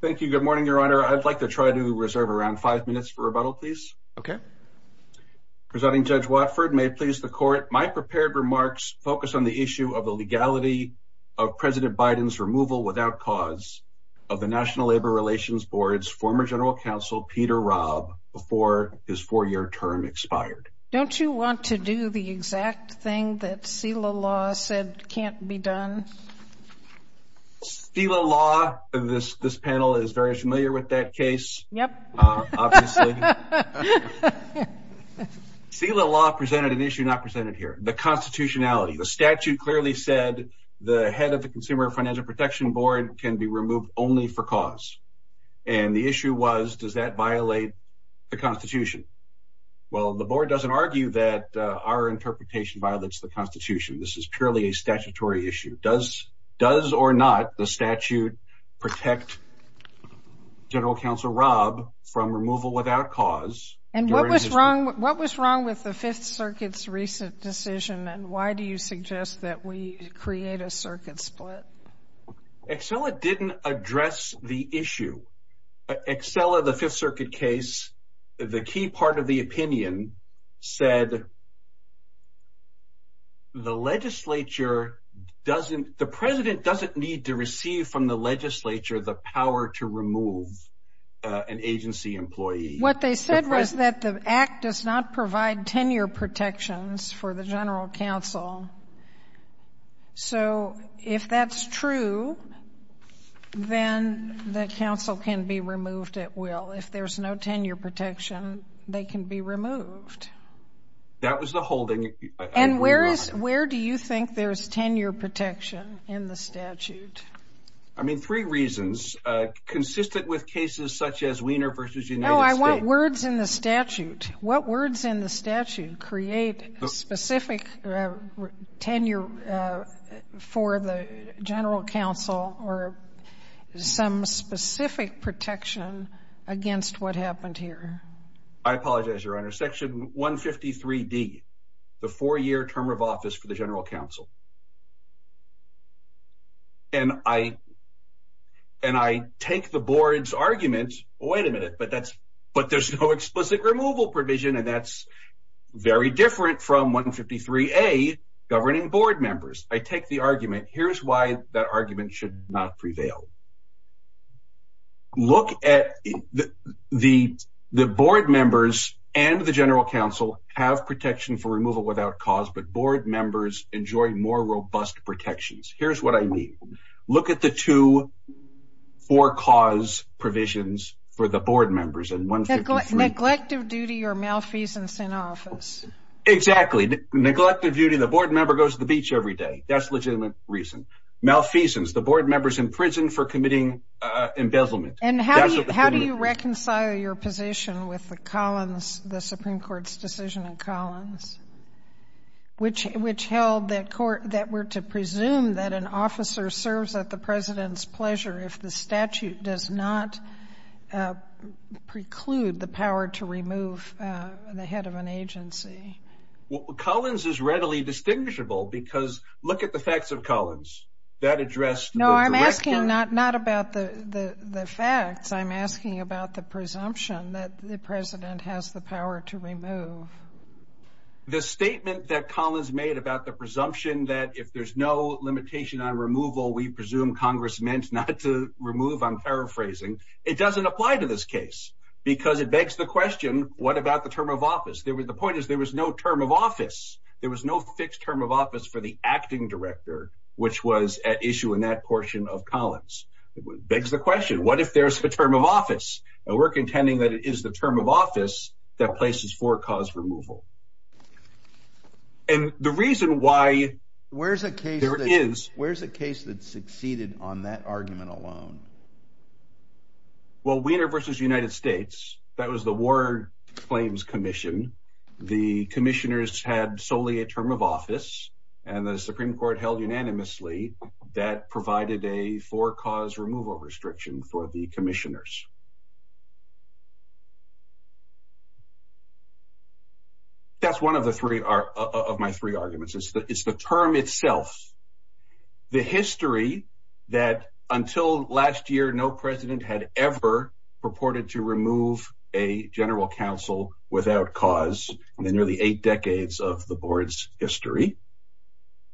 Thank you. Good morning, Your Honor. I'd like to try to reserve around five minutes for rebuttal, please. Okay. Presenting Judge Watford, may it please the Court, my prepared remarks focus on the issue of the legality of President Biden's removal without cause of the National Labor Relations Board's former General Counsel Peter Raab before his four-year term expired. Don't you want to do the exact thing that SELA law said can't be done? SELA law, this panel is very familiar with that case, obviously. SELA law presented an issue not presented here, the constitutionality. The statute clearly said the head of the Consumer Financial Protection Board can be removed only for cause. And the issue was, does that violate the constitution? Well, the board doesn't argue that our interpretation violates the constitution. This is purely a statutory issue. Does or not the statute protect General Counsel Raab from removal without cause? And what was wrong with the Fifth Circuit's recent decision, and why do you suggest that we create a circuit split? SELA didn't address the issue. SELA, the Fifth Circuit case, the key part of the opinion said the legislature doesn't, the President doesn't need to receive from the legislature the power to remove an agency employee. What they said was that the Act does not provide tenure protections for the General Counsel. So, if that's true, then the Counsel can be removed at will. If there's no tenure protection, they can be removed. That was the holding. And where is, where do you think there's tenure protection in the statute? I mean, three reasons. Consistent with cases such as Wiener v. United States. No, I want words in the statute. What words in the statute create specific tenure for the General Counsel or some specific protection against what happened here? I apologize, Your Honor. Section 153D, the four-year term of office for the General Counsel. And I, and I take the board's argument, wait a minute, but that's, but there's no explicit removal provision, and that's very different from 153A, governing board members. I take the argument. Here's why that argument should not prevail. Look at the, the board members and the General Counsel have protection for removal without cause, but board members enjoy more robust protections. Here's what I mean. Look at the two for-cause provisions for the board members in 153. Neglect of duty or malfeasance in office. Exactly. Neglect of duty. The board member goes to the beach every day. That's legitimate reason. Malfeasance. The board members in prison for committing embezzlement. And how do you reconcile your position with the Collins, the Supreme Court's decision in Collins, which held that court, that were to presume that an officer serves at the president's pleasure if the statute does not preclude the power to remove the head of an agency? Well, Collins is readily distinguishable because look at the facts of Collins. That addressed the direction. No, I'm asking not, not about the, the, the facts. I'm asking about the presumption that the president has the power to remove. The statement that Collins made about the presumption that if there's no limitation on removal, we presume Congress meant not to remove, I'm paraphrasing, it doesn't apply to this case because it begs the question, what about the term of office? There was, the point is there was no term of office. There was no fixed term of office for the acting director, which was at issue in that portion of Collins. Begs the question, what if there's a term of office? And we're contending that it is the term of office that places for cause removal. And the reason why there is... Where's a case, where's a case that succeeded on that argument alone? Well, Weiner versus United States, that was the war claims commission. The commissioners had solely a term of office and the Supreme Court held unanimously that provided a for cause removal restriction for the commissioners. That's one of the three of my three arguments. It's the term itself. The history that until last year, no president had ever purported to remove a general counsel without cause in the nearly eight decades of the board's history.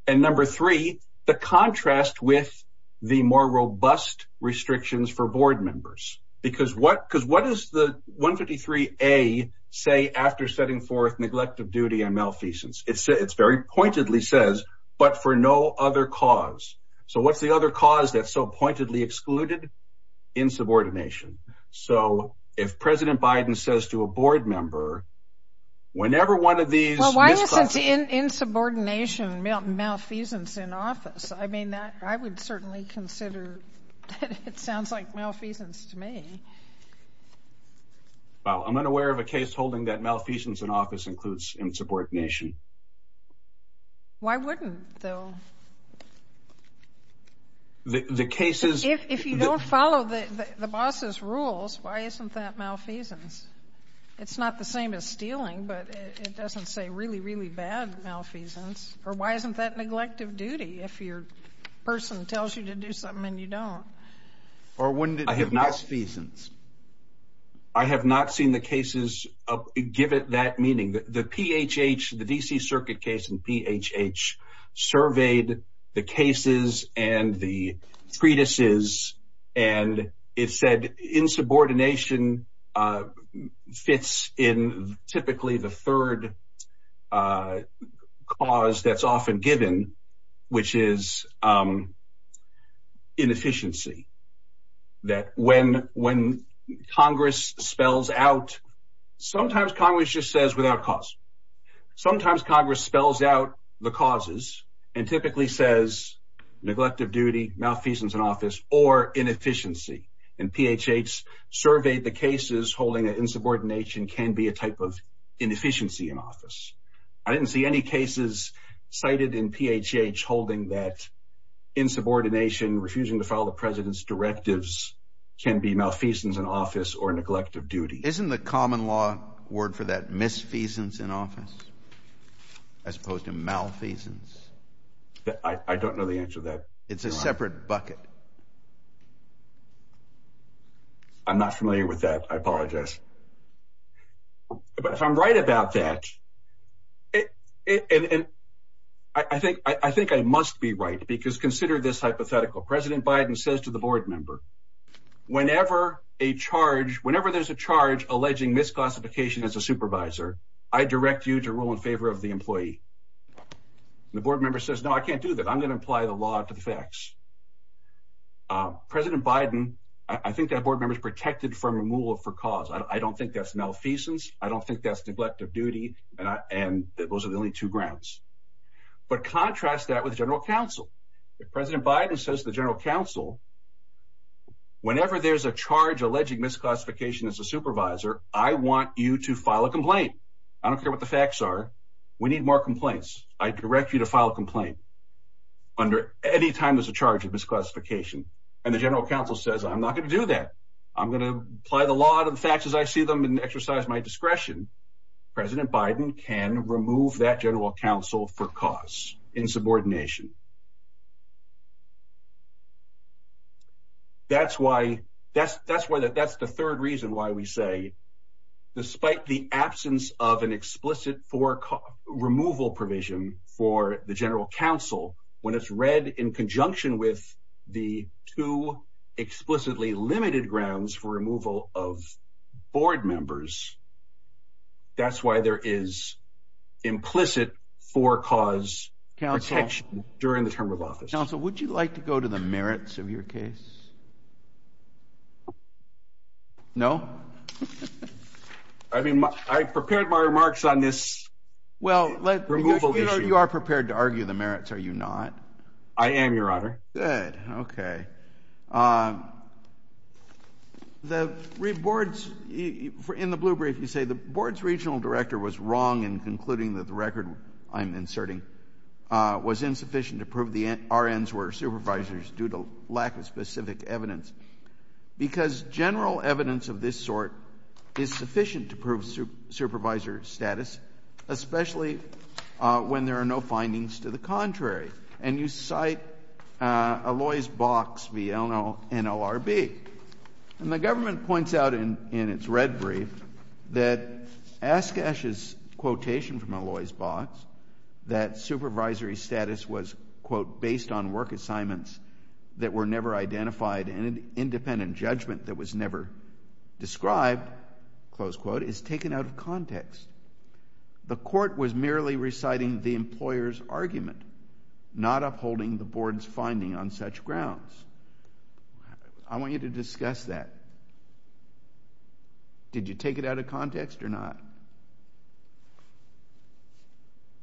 And number three, the contrast with the more robust restrictions for board members, because what is the 153A say after setting forth neglect of duty and malfeasance? It's very pointedly says, but for no other cause. So what's the other cause that's so pointedly excluded? Insubordination. So if President Biden says to a board member, whenever one of these... Well, it's insubordination, malfeasance in office. I mean, I would certainly consider it sounds like malfeasance to me. Well, I'm unaware of a case holding that malfeasance in office includes insubordination. Why wouldn't though? The cases... If you follow the boss's rules, why isn't that malfeasance? It's not the same as stealing, but it doesn't say really, really bad malfeasance. Or why isn't that neglect of duty if your person tells you to do something and you don't? Or wouldn't it be malfeasance? I have not seen the cases give it that meaning. The PHH, the DC Circuit case in PHH surveyed the cases and the treatises. And it said insubordination fits in typically the third cause that's often given, which is inefficiency. That when Congress spells out... Sometimes Congress just says without cause. Sometimes Congress spells out the causes and typically says neglect of duty, malfeasance in office, or inefficiency. And PHH surveyed the cases holding that insubordination can be a type of inefficiency in office. I didn't see any cases cited in PHH holding that insubordination, refusing to follow the president's directives can be malfeasance in office or neglect of duty. Isn't the common law word for that misfeasance in office as opposed to malfeasance? I don't know the answer to that. It's a separate bucket. I'm not familiar with that. I apologize. But if I'm right about that, I think I must be right because consider this hypothetical. President Biden says to the board member, whenever there's a charge alleging misclassification as a supervisor, I direct you to rule in favor of the employee. The board member says, no, I can't do that. I'm going to apply the law to the facts. President Biden, I think that board member is protected from removal for cause. I don't think that's malfeasance. I don't think that's neglect of duty. And those are the only two grounds. But contrast that with general counsel. President Biden says to the general counsel, whenever there's a charge alleging misclassification as a supervisor, I want you to file a complaint. I don't care what the facts are. We need more complaints. I direct you to file a complaint under any time there's a charge of misclassification. And the general counsel says, I'm not going to do that. I'm going to apply the law to the facts as I see them and exercise my discretion. President Biden can remove that general counsel for cause in subordination. That's why that's that's why that that's the third reason why we say despite the absence of an explicit for removal provision for the general counsel, when it's read in conjunction with the two explicitly limited grounds for removal of board members. That's why there is implicit for cause during the term of office. Counsel, would you like to go to the merits of your case? No, I mean, I prepared my remarks on this. Well, you are prepared to argue the merits. Are you not? I am your honor. Good. OK. The boards in the blue brief, you say the board's regional director was wrong in concluding that the record I'm inserting was insufficient to prove the RNs were supervisors due to lack of specific evidence. Because general evidence of this sort is sufficient to prove supervisor status, especially when there are no findings to the contrary. And you cite a lawyer's box. We all know NLRB. And the government points out in in its red brief that ask ashes quotation from a lawyer's box that supervisory status was, quote, based on work assignments that were never identified. And an independent judgment that was never described, close quote, is taken out of context. The court was merely reciting the employer's argument, not upholding the board's finding on such grounds. I want you to discuss that. Did you take it out of context or not?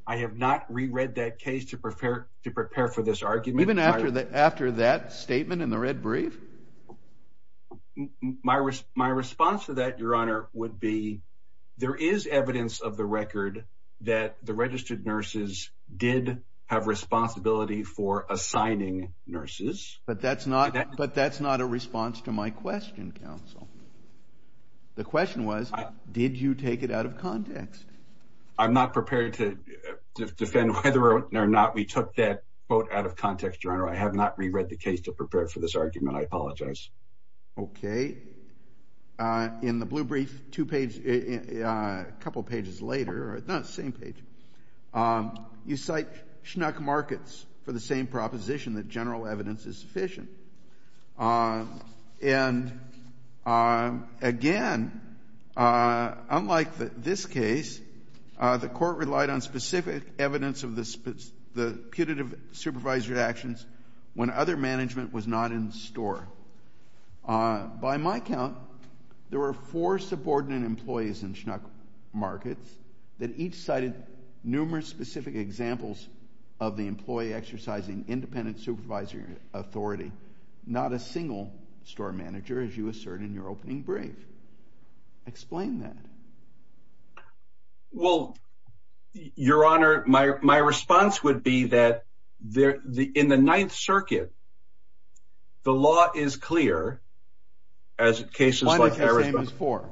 I have not reread that case to prepare to prepare for this argument. Even after that statement in the red brief? My my response to that, Your Honor, would be there is evidence of the record that the registered nurses did have responsibility for assigning nurses. But that's not but that's not a response to my question. The question was, did you take it out of context? I'm not prepared to defend whether or not we took that quote out of context. Your Honor, I have not reread the case to prepare for this argument. I apologize. Okay. In the blue brief, two page, a couple of pages later, the same page, you cite schnuck markets for the same proposition that general evidence is sufficient. And again, unlike this case, the court relied on specific evidence of the putative supervisory actions when other management was not in store. By my count, there were four subordinate employees in schnuck markets that each cited numerous specific examples of the employee exercising independent supervisory authority, not a single store manager, as you assert in your opening brief. Explain that. Well, Your Honor, my my response would be that there in the Ninth Circuit. The law is clear. As cases like for.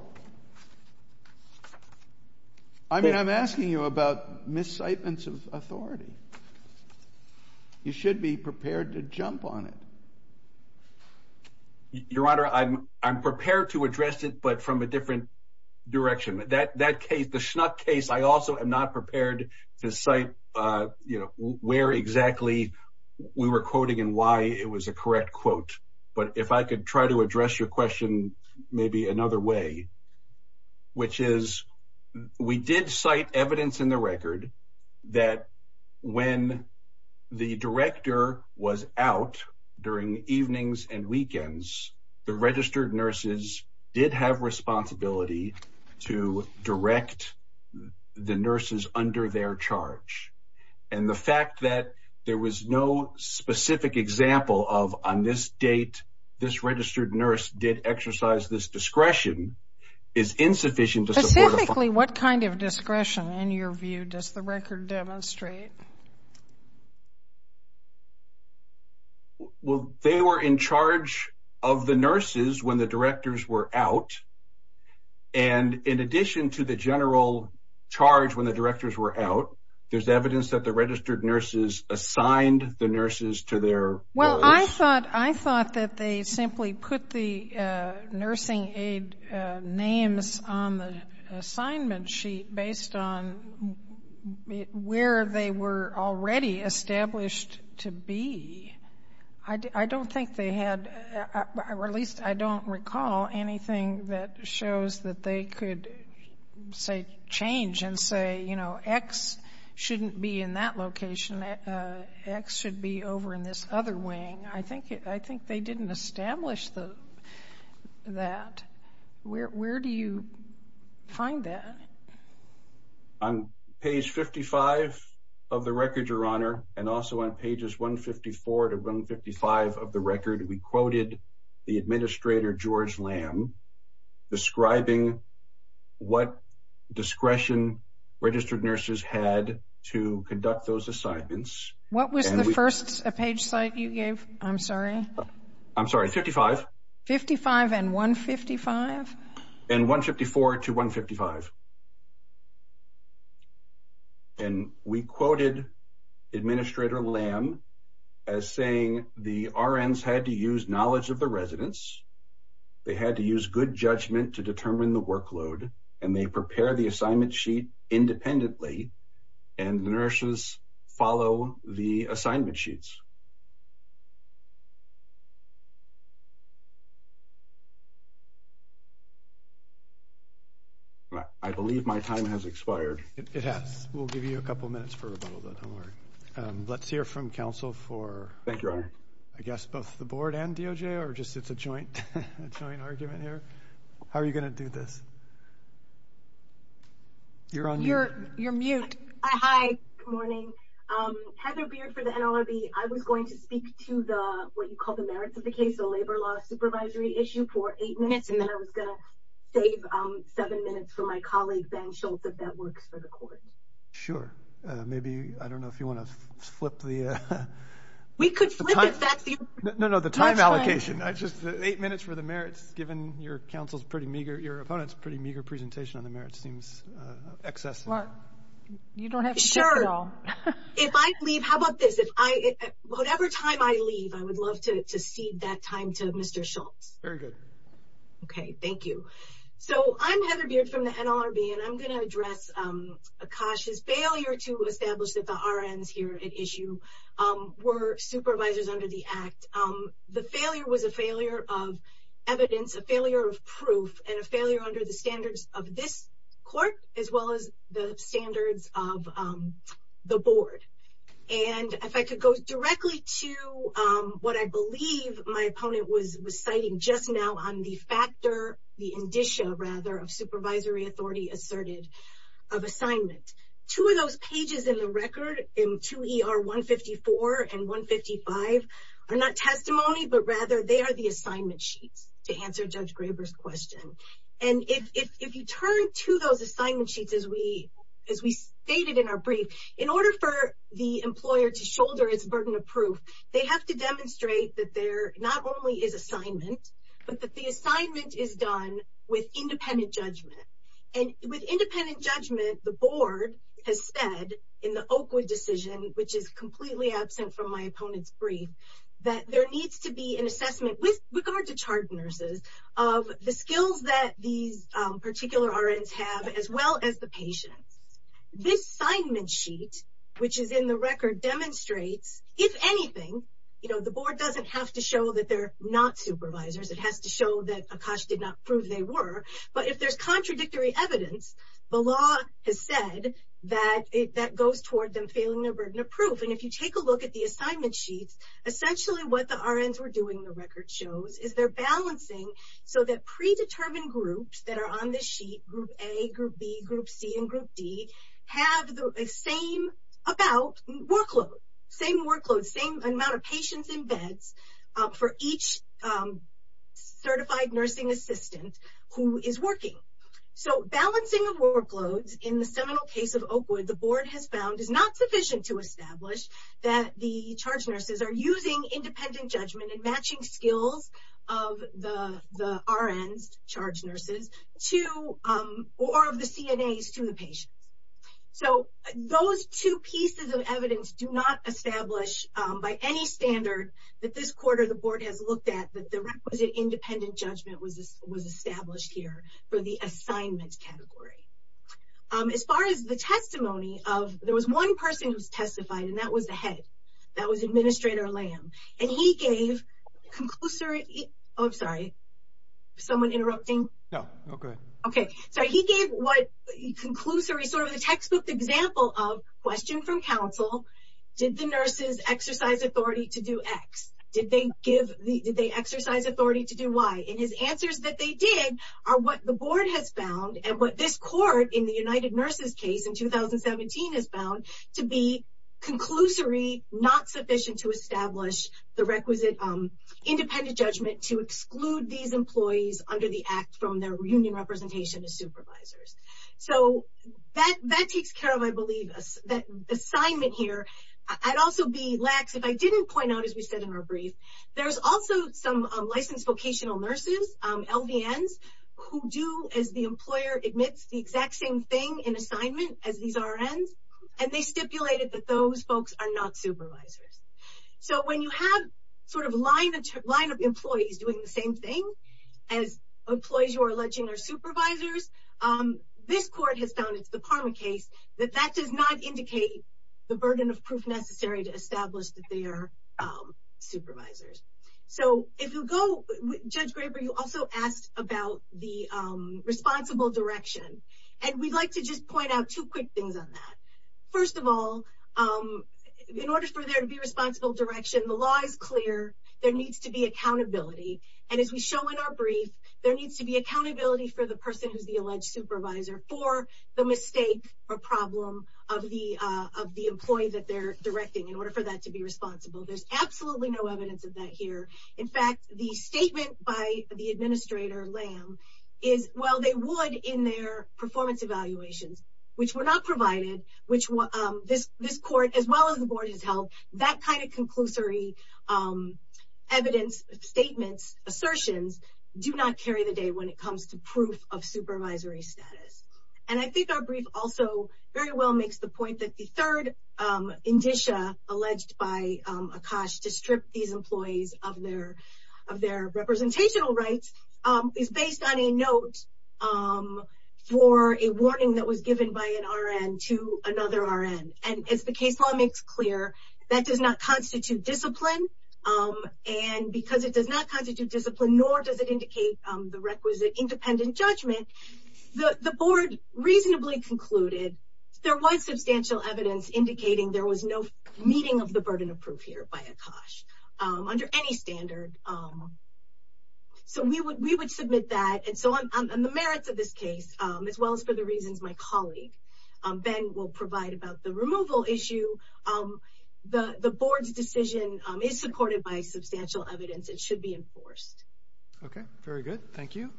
I mean, I'm asking you about miscitements of authority. You should be prepared to jump on it. Your Honor, I'm I'm prepared to address it, but from a different direction that that case, the schnuck case. I also am not prepared to cite, you know, where exactly we were quoting and why it was a correct quote. But if I could try to address your question, maybe another way. Which is we did cite evidence in the record that when the director was out during evenings and weekends, the registered nurses did have responsibility to direct the nurses under their charge. And the fact that there was no specific example of on this date, this registered nurse did exercise this discretion is insufficient. Specifically, what kind of discretion in your view does the record demonstrate? Well, they were in charge of the nurses when the directors were out. And in addition to the general charge when the directors were out, there's evidence that the registered nurses assigned the nurses to their. Well, I thought I thought that they simply put the nursing aid names on the assignment sheet based on where they were already established to be. I don't think they had released. I don't recall anything that shows that they could say change and say, you know, X shouldn't be in that location. X should be over in this other wing. I think I think they didn't establish the that. Where do you find that? On page 55 of the record, Your Honor, and also on pages 154 to 155 of the record, we quoted the administrator, George Lamb, describing what discretion registered nurses had to conduct those assignments. What was the first page site you gave? I'm sorry. I'm sorry. 55. 55 and 155. And 154 to 155. And we quoted administrator Lamb as saying the RNs had to use knowledge of the residents. They had to use good judgment to determine the workload and they prepare the assignment sheet independently and the nurses follow the assignment sheets. I believe my time has expired. It has. We'll give you a couple of minutes for a little bit. Don't worry. Let's hear from counsel for. Thank you. I guess both the board and DOJ or just it's a joint joint argument here. How are you going to do this? You're on. You're you're mute. Hi. Good morning. Heather Beard for the NLRB. I was going to speak to the what you call the merits of the case. The labor law supervisory issue for eight minutes and then I was going to save seven minutes for my colleagues and show that that works for the court. Sure. Maybe. I don't know if you want to flip the. We could. No, no. The time allocation is just eight minutes for the merits. Given your counsel's pretty meager, your opponent's pretty meager presentation on the merits seems excess. You don't have to. Sure. If I leave. How about this? If I whatever time I leave, I would love to see that time to Mr. Schultz. Very good. OK, thank you. So I'm Heather Beard from the NLRB and I'm going to address Akash's failure to establish that the RNs here at issue were supervisors under the act. The failure was a failure of evidence, a failure of proof and a failure under the standards of this court, as well as the standards of the board. And if I could go directly to what I believe my opponent was citing just now on the factor, the indicia rather of supervisory authority asserted of assignment. Two of those pages in the record in 2 ER 154 and 155 are not testimony, but rather they are the assignment sheets to answer Judge Graber's question. And if you turn to those assignment sheets, as we as we stated in our brief, in order for the employer to shoulder its burden of proof, they have to demonstrate that there not only is assignment, but that the assignment is done with independent judgment. And with independent judgment, the board has said in the Oakwood decision, which is completely absent from my opponent's brief, that there needs to be an assessment with regard to chart nurses of the skills that these particular RNs have, as well as the patients. This assignment sheet, which is in the record, demonstrates, if anything, you know, the board doesn't have to show that they're not supervisors. It has to show that Akash did not prove they were. But if there's contradictory evidence, the law has said that that goes toward them failing their burden of proof. And if you take a look at the assignment sheets, essentially what the RNs were doing, the record shows, is they're balancing so that predetermined groups that are on this sheet, Group A, Group B, Group C, and Group D, have the same amount of patients in beds for each certified nursing assistant who is working. So, balancing of workloads in the seminal case of Oakwood, the board has found is not sufficient to establish that the charge nurses are using independent judgment and matching skills of the RNs, charge nurses, or of the CNAs to the patients. So, those two pieces of evidence do not establish, by any standard, that this quarter the board has looked at that the requisite independent judgment was established here for the assignment category. As far as the testimony of, there was one person who was testified, and that was the head. That was Administrator Lamb. And he gave conclusory, oh, I'm sorry. Is someone interrupting? No, go ahead. Okay. So, he gave what, conclusory, sort of a textbook example of question from counsel, did the nurses exercise authority to do X? Did they give, did they exercise authority to do Y? And his answers that they did are what the board has found and what this court in the United Nurses case in 2017 has found to be conclusory, not sufficient to establish the requisite independent judgment to exclude these employees under the act from their union representation as supervisors. So, that takes care of, I believe, assignment here. I'd also be lax if I didn't point out, as we said in our brief, there's also some licensed vocational nurses, LDNs, who do, as the employer admits, the exact same thing in assignment as these RNs, and they stipulated that those folks are not supervisors. So, when you have sort of line of employees doing the same thing as employees you are alleging are supervisors, this court has found, it's the Parma case, that that does not indicate the burden of proof necessary to establish that they are supervisors. So, if you'll go, Judge Graber, you also asked about the responsible direction, and we'd like to just point out two quick things on that. First of all, in order for there to be responsible direction, the law is clear, there needs to be accountability, and as we show in our brief, there needs to be accountability for the person who's the alleged supervisor for the mistake or problem of the employee that they're directing. In order for that to be responsible, there's absolutely no evidence of that here. In fact, the statement by the administrator, Lamb, is, well, they would in their performance evaluations, which were not provided, which this court, as well as the board has helped, that kind of conclusory evidence, statements, assertions, do not carry the day when it comes to proof of supervisory status. And I think our brief also very well makes the point that the third indicia alleged by Akash to strip these employees of their representational rights is based on a note for a warning that was given by an RN to another RN. And as the case law makes clear, that does not constitute discipline, and because it does not constitute discipline, nor does it indicate the requisite independent judgment, the board reasonably concluded there was substantial evidence indicating there was no meeting of the burden of proof here by Akash under any standard. So we would submit that. And so on the merits of this case, as well as for the reasons my colleague, Ben, will provide about the removal issue, the board's decision is supported by substantial evidence. It should be enforced. Okay, very good. Thank you.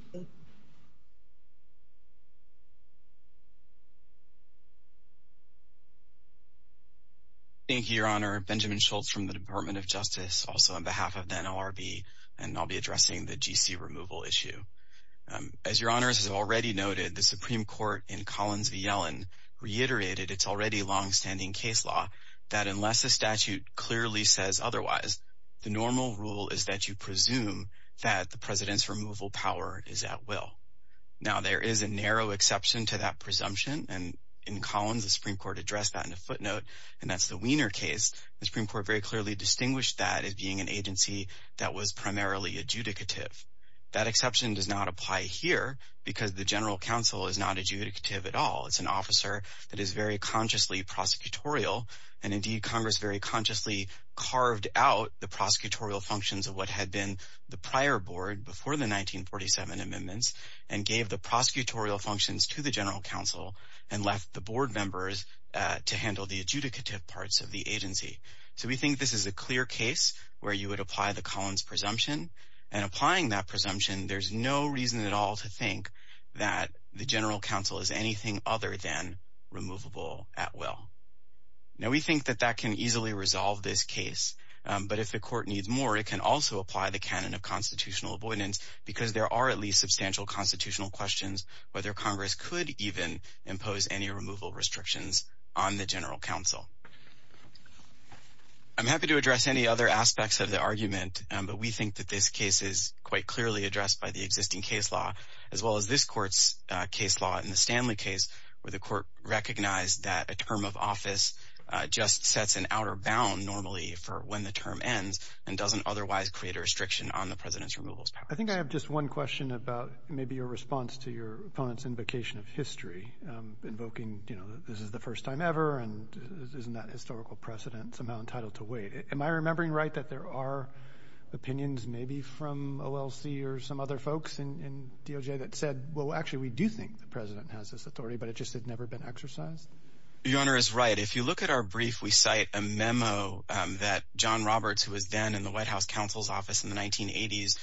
Thank you, Your Honor. Benjamin Schultz from the Department of Justice, also on behalf of the NLRB, and I'll be addressing the GC removal issue. As Your Honors has already noted, the Supreme Court in Collins v. Yellen reiterated its already longstanding case law that unless a statute clearly says otherwise, the normal rule is that you presume that the President's removal power is at will. Now, there is a narrow exception to that presumption, and in Collins, the Supreme Court addressed that in a footnote, and that's the Wiener case. The Supreme Court very clearly distinguished that as being an agency that was primarily adjudicative. That exception does not apply here because the General Counsel is not adjudicative at all. It's an officer that is very consciously prosecutorial, and indeed, Congress very consciously carved out the prosecutorial functions of what had been the prior board before the 1947 amendments and gave the prosecutorial functions to the General Counsel and left the board members to handle the adjudicative parts of the agency. So we think this is a clear case where you would apply the Collins presumption, and applying that presumption, there's no reason at all to think that the General Counsel is anything other than removable at will. Now, we think that that can easily resolve this case, but if the court needs more, it can also apply the canon of constitutional avoidance because there are at least substantial constitutional questions whether Congress could even impose any removal restrictions on the General Counsel. I'm happy to address any other aspects of the argument, but we think that this case is quite clearly addressed by the existing case law as well as this court's case law in the Stanley case where the court recognized that a term of office just sets an outer bound normally for when the term ends and doesn't otherwise create a restriction on the President's removal powers. I think I have just one question about maybe your response to your opponent's invocation of history, invoking, you know, this is the first time ever and isn't that historical precedent somehow entitled to wait? Am I remembering right that there are opinions maybe from OLC or some other folks in DOJ that said, well, actually, we do think the President has this authority, but it just had never been exercised? Your Honor is right. If you look at our brief, we cite a memo that John Roberts, who was then in the White House Counsel's Office in the 1980s,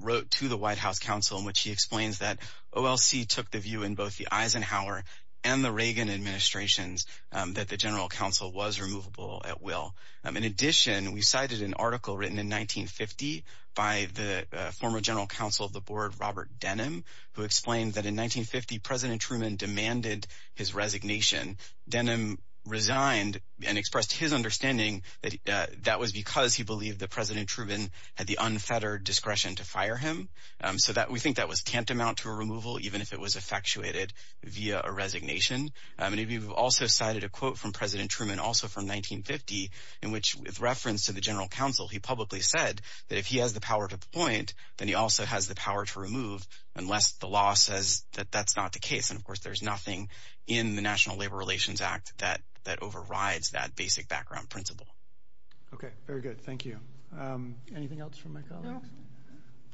wrote to the White House Counsel in which he explains that OLC took the view in both the Eisenhower and the Reagan administrations that the General Counsel was removable at will. In addition, we cited an article written in 1950 by the former General Counsel of the Board, Robert Denham, who explained that in 1950, President Truman demanded his resignation. Denham resigned and expressed his understanding that that was because he believed that President Truman had the unfettered discretion to fire him so that we think that was tantamount to a removal, even if it was effectuated via a resignation. We've also cited a quote from President Truman also from 1950 in which, with reference to the General Counsel, he publicly said that if he has the power to appoint, then he also has the power to remove unless the law says that that's not the case. And, of course, there's nothing in the National Labor Relations Act that overrides that basic background principle. Okay. Very good. Thank you. Anything else from my colleagues? No.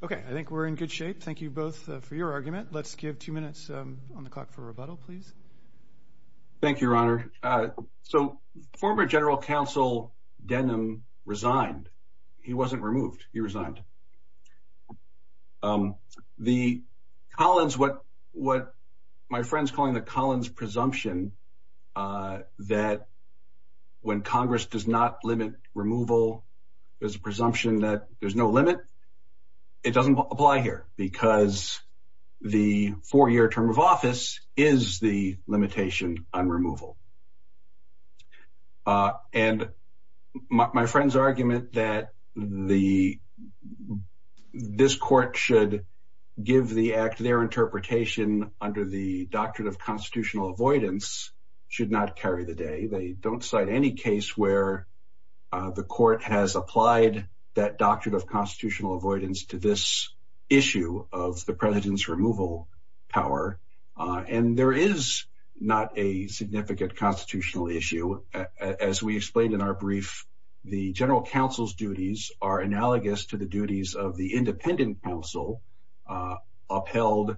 Okay. I think we're in good shape. Thank you both for your argument. Let's give two minutes on the clock for rebuttal, please. Thank you, Your Honor. So former General Counsel Denham resigned. He resigned. My friend's calling the Collins presumption that when Congress does not limit removal, there's a presumption that there's no limit. It doesn't apply here because the four-year term of office is the limitation on removal. And my friend's argument that this court should give the act their interpretation under the Doctrine of Constitutional Avoidance should not carry the day. They don't cite any case where the court has applied that Doctrine of Constitutional Avoidance to this issue of the president's removal power. And there is not a significant constitutional issue. As we explained in our brief, the general counsel's duties are analogous to the duties of the independent counsel upheld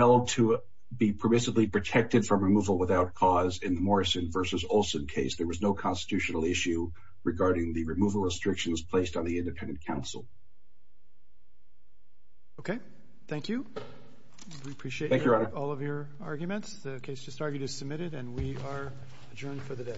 to be permissibly protected from removal without cause. In the Morrison v. Olson case, there was no constitutional issue regarding the removal restrictions placed on the independent counsel. Okay. Thank you. We appreciate all of your arguments. The case just argued is submitted, and we are adjourned for the day.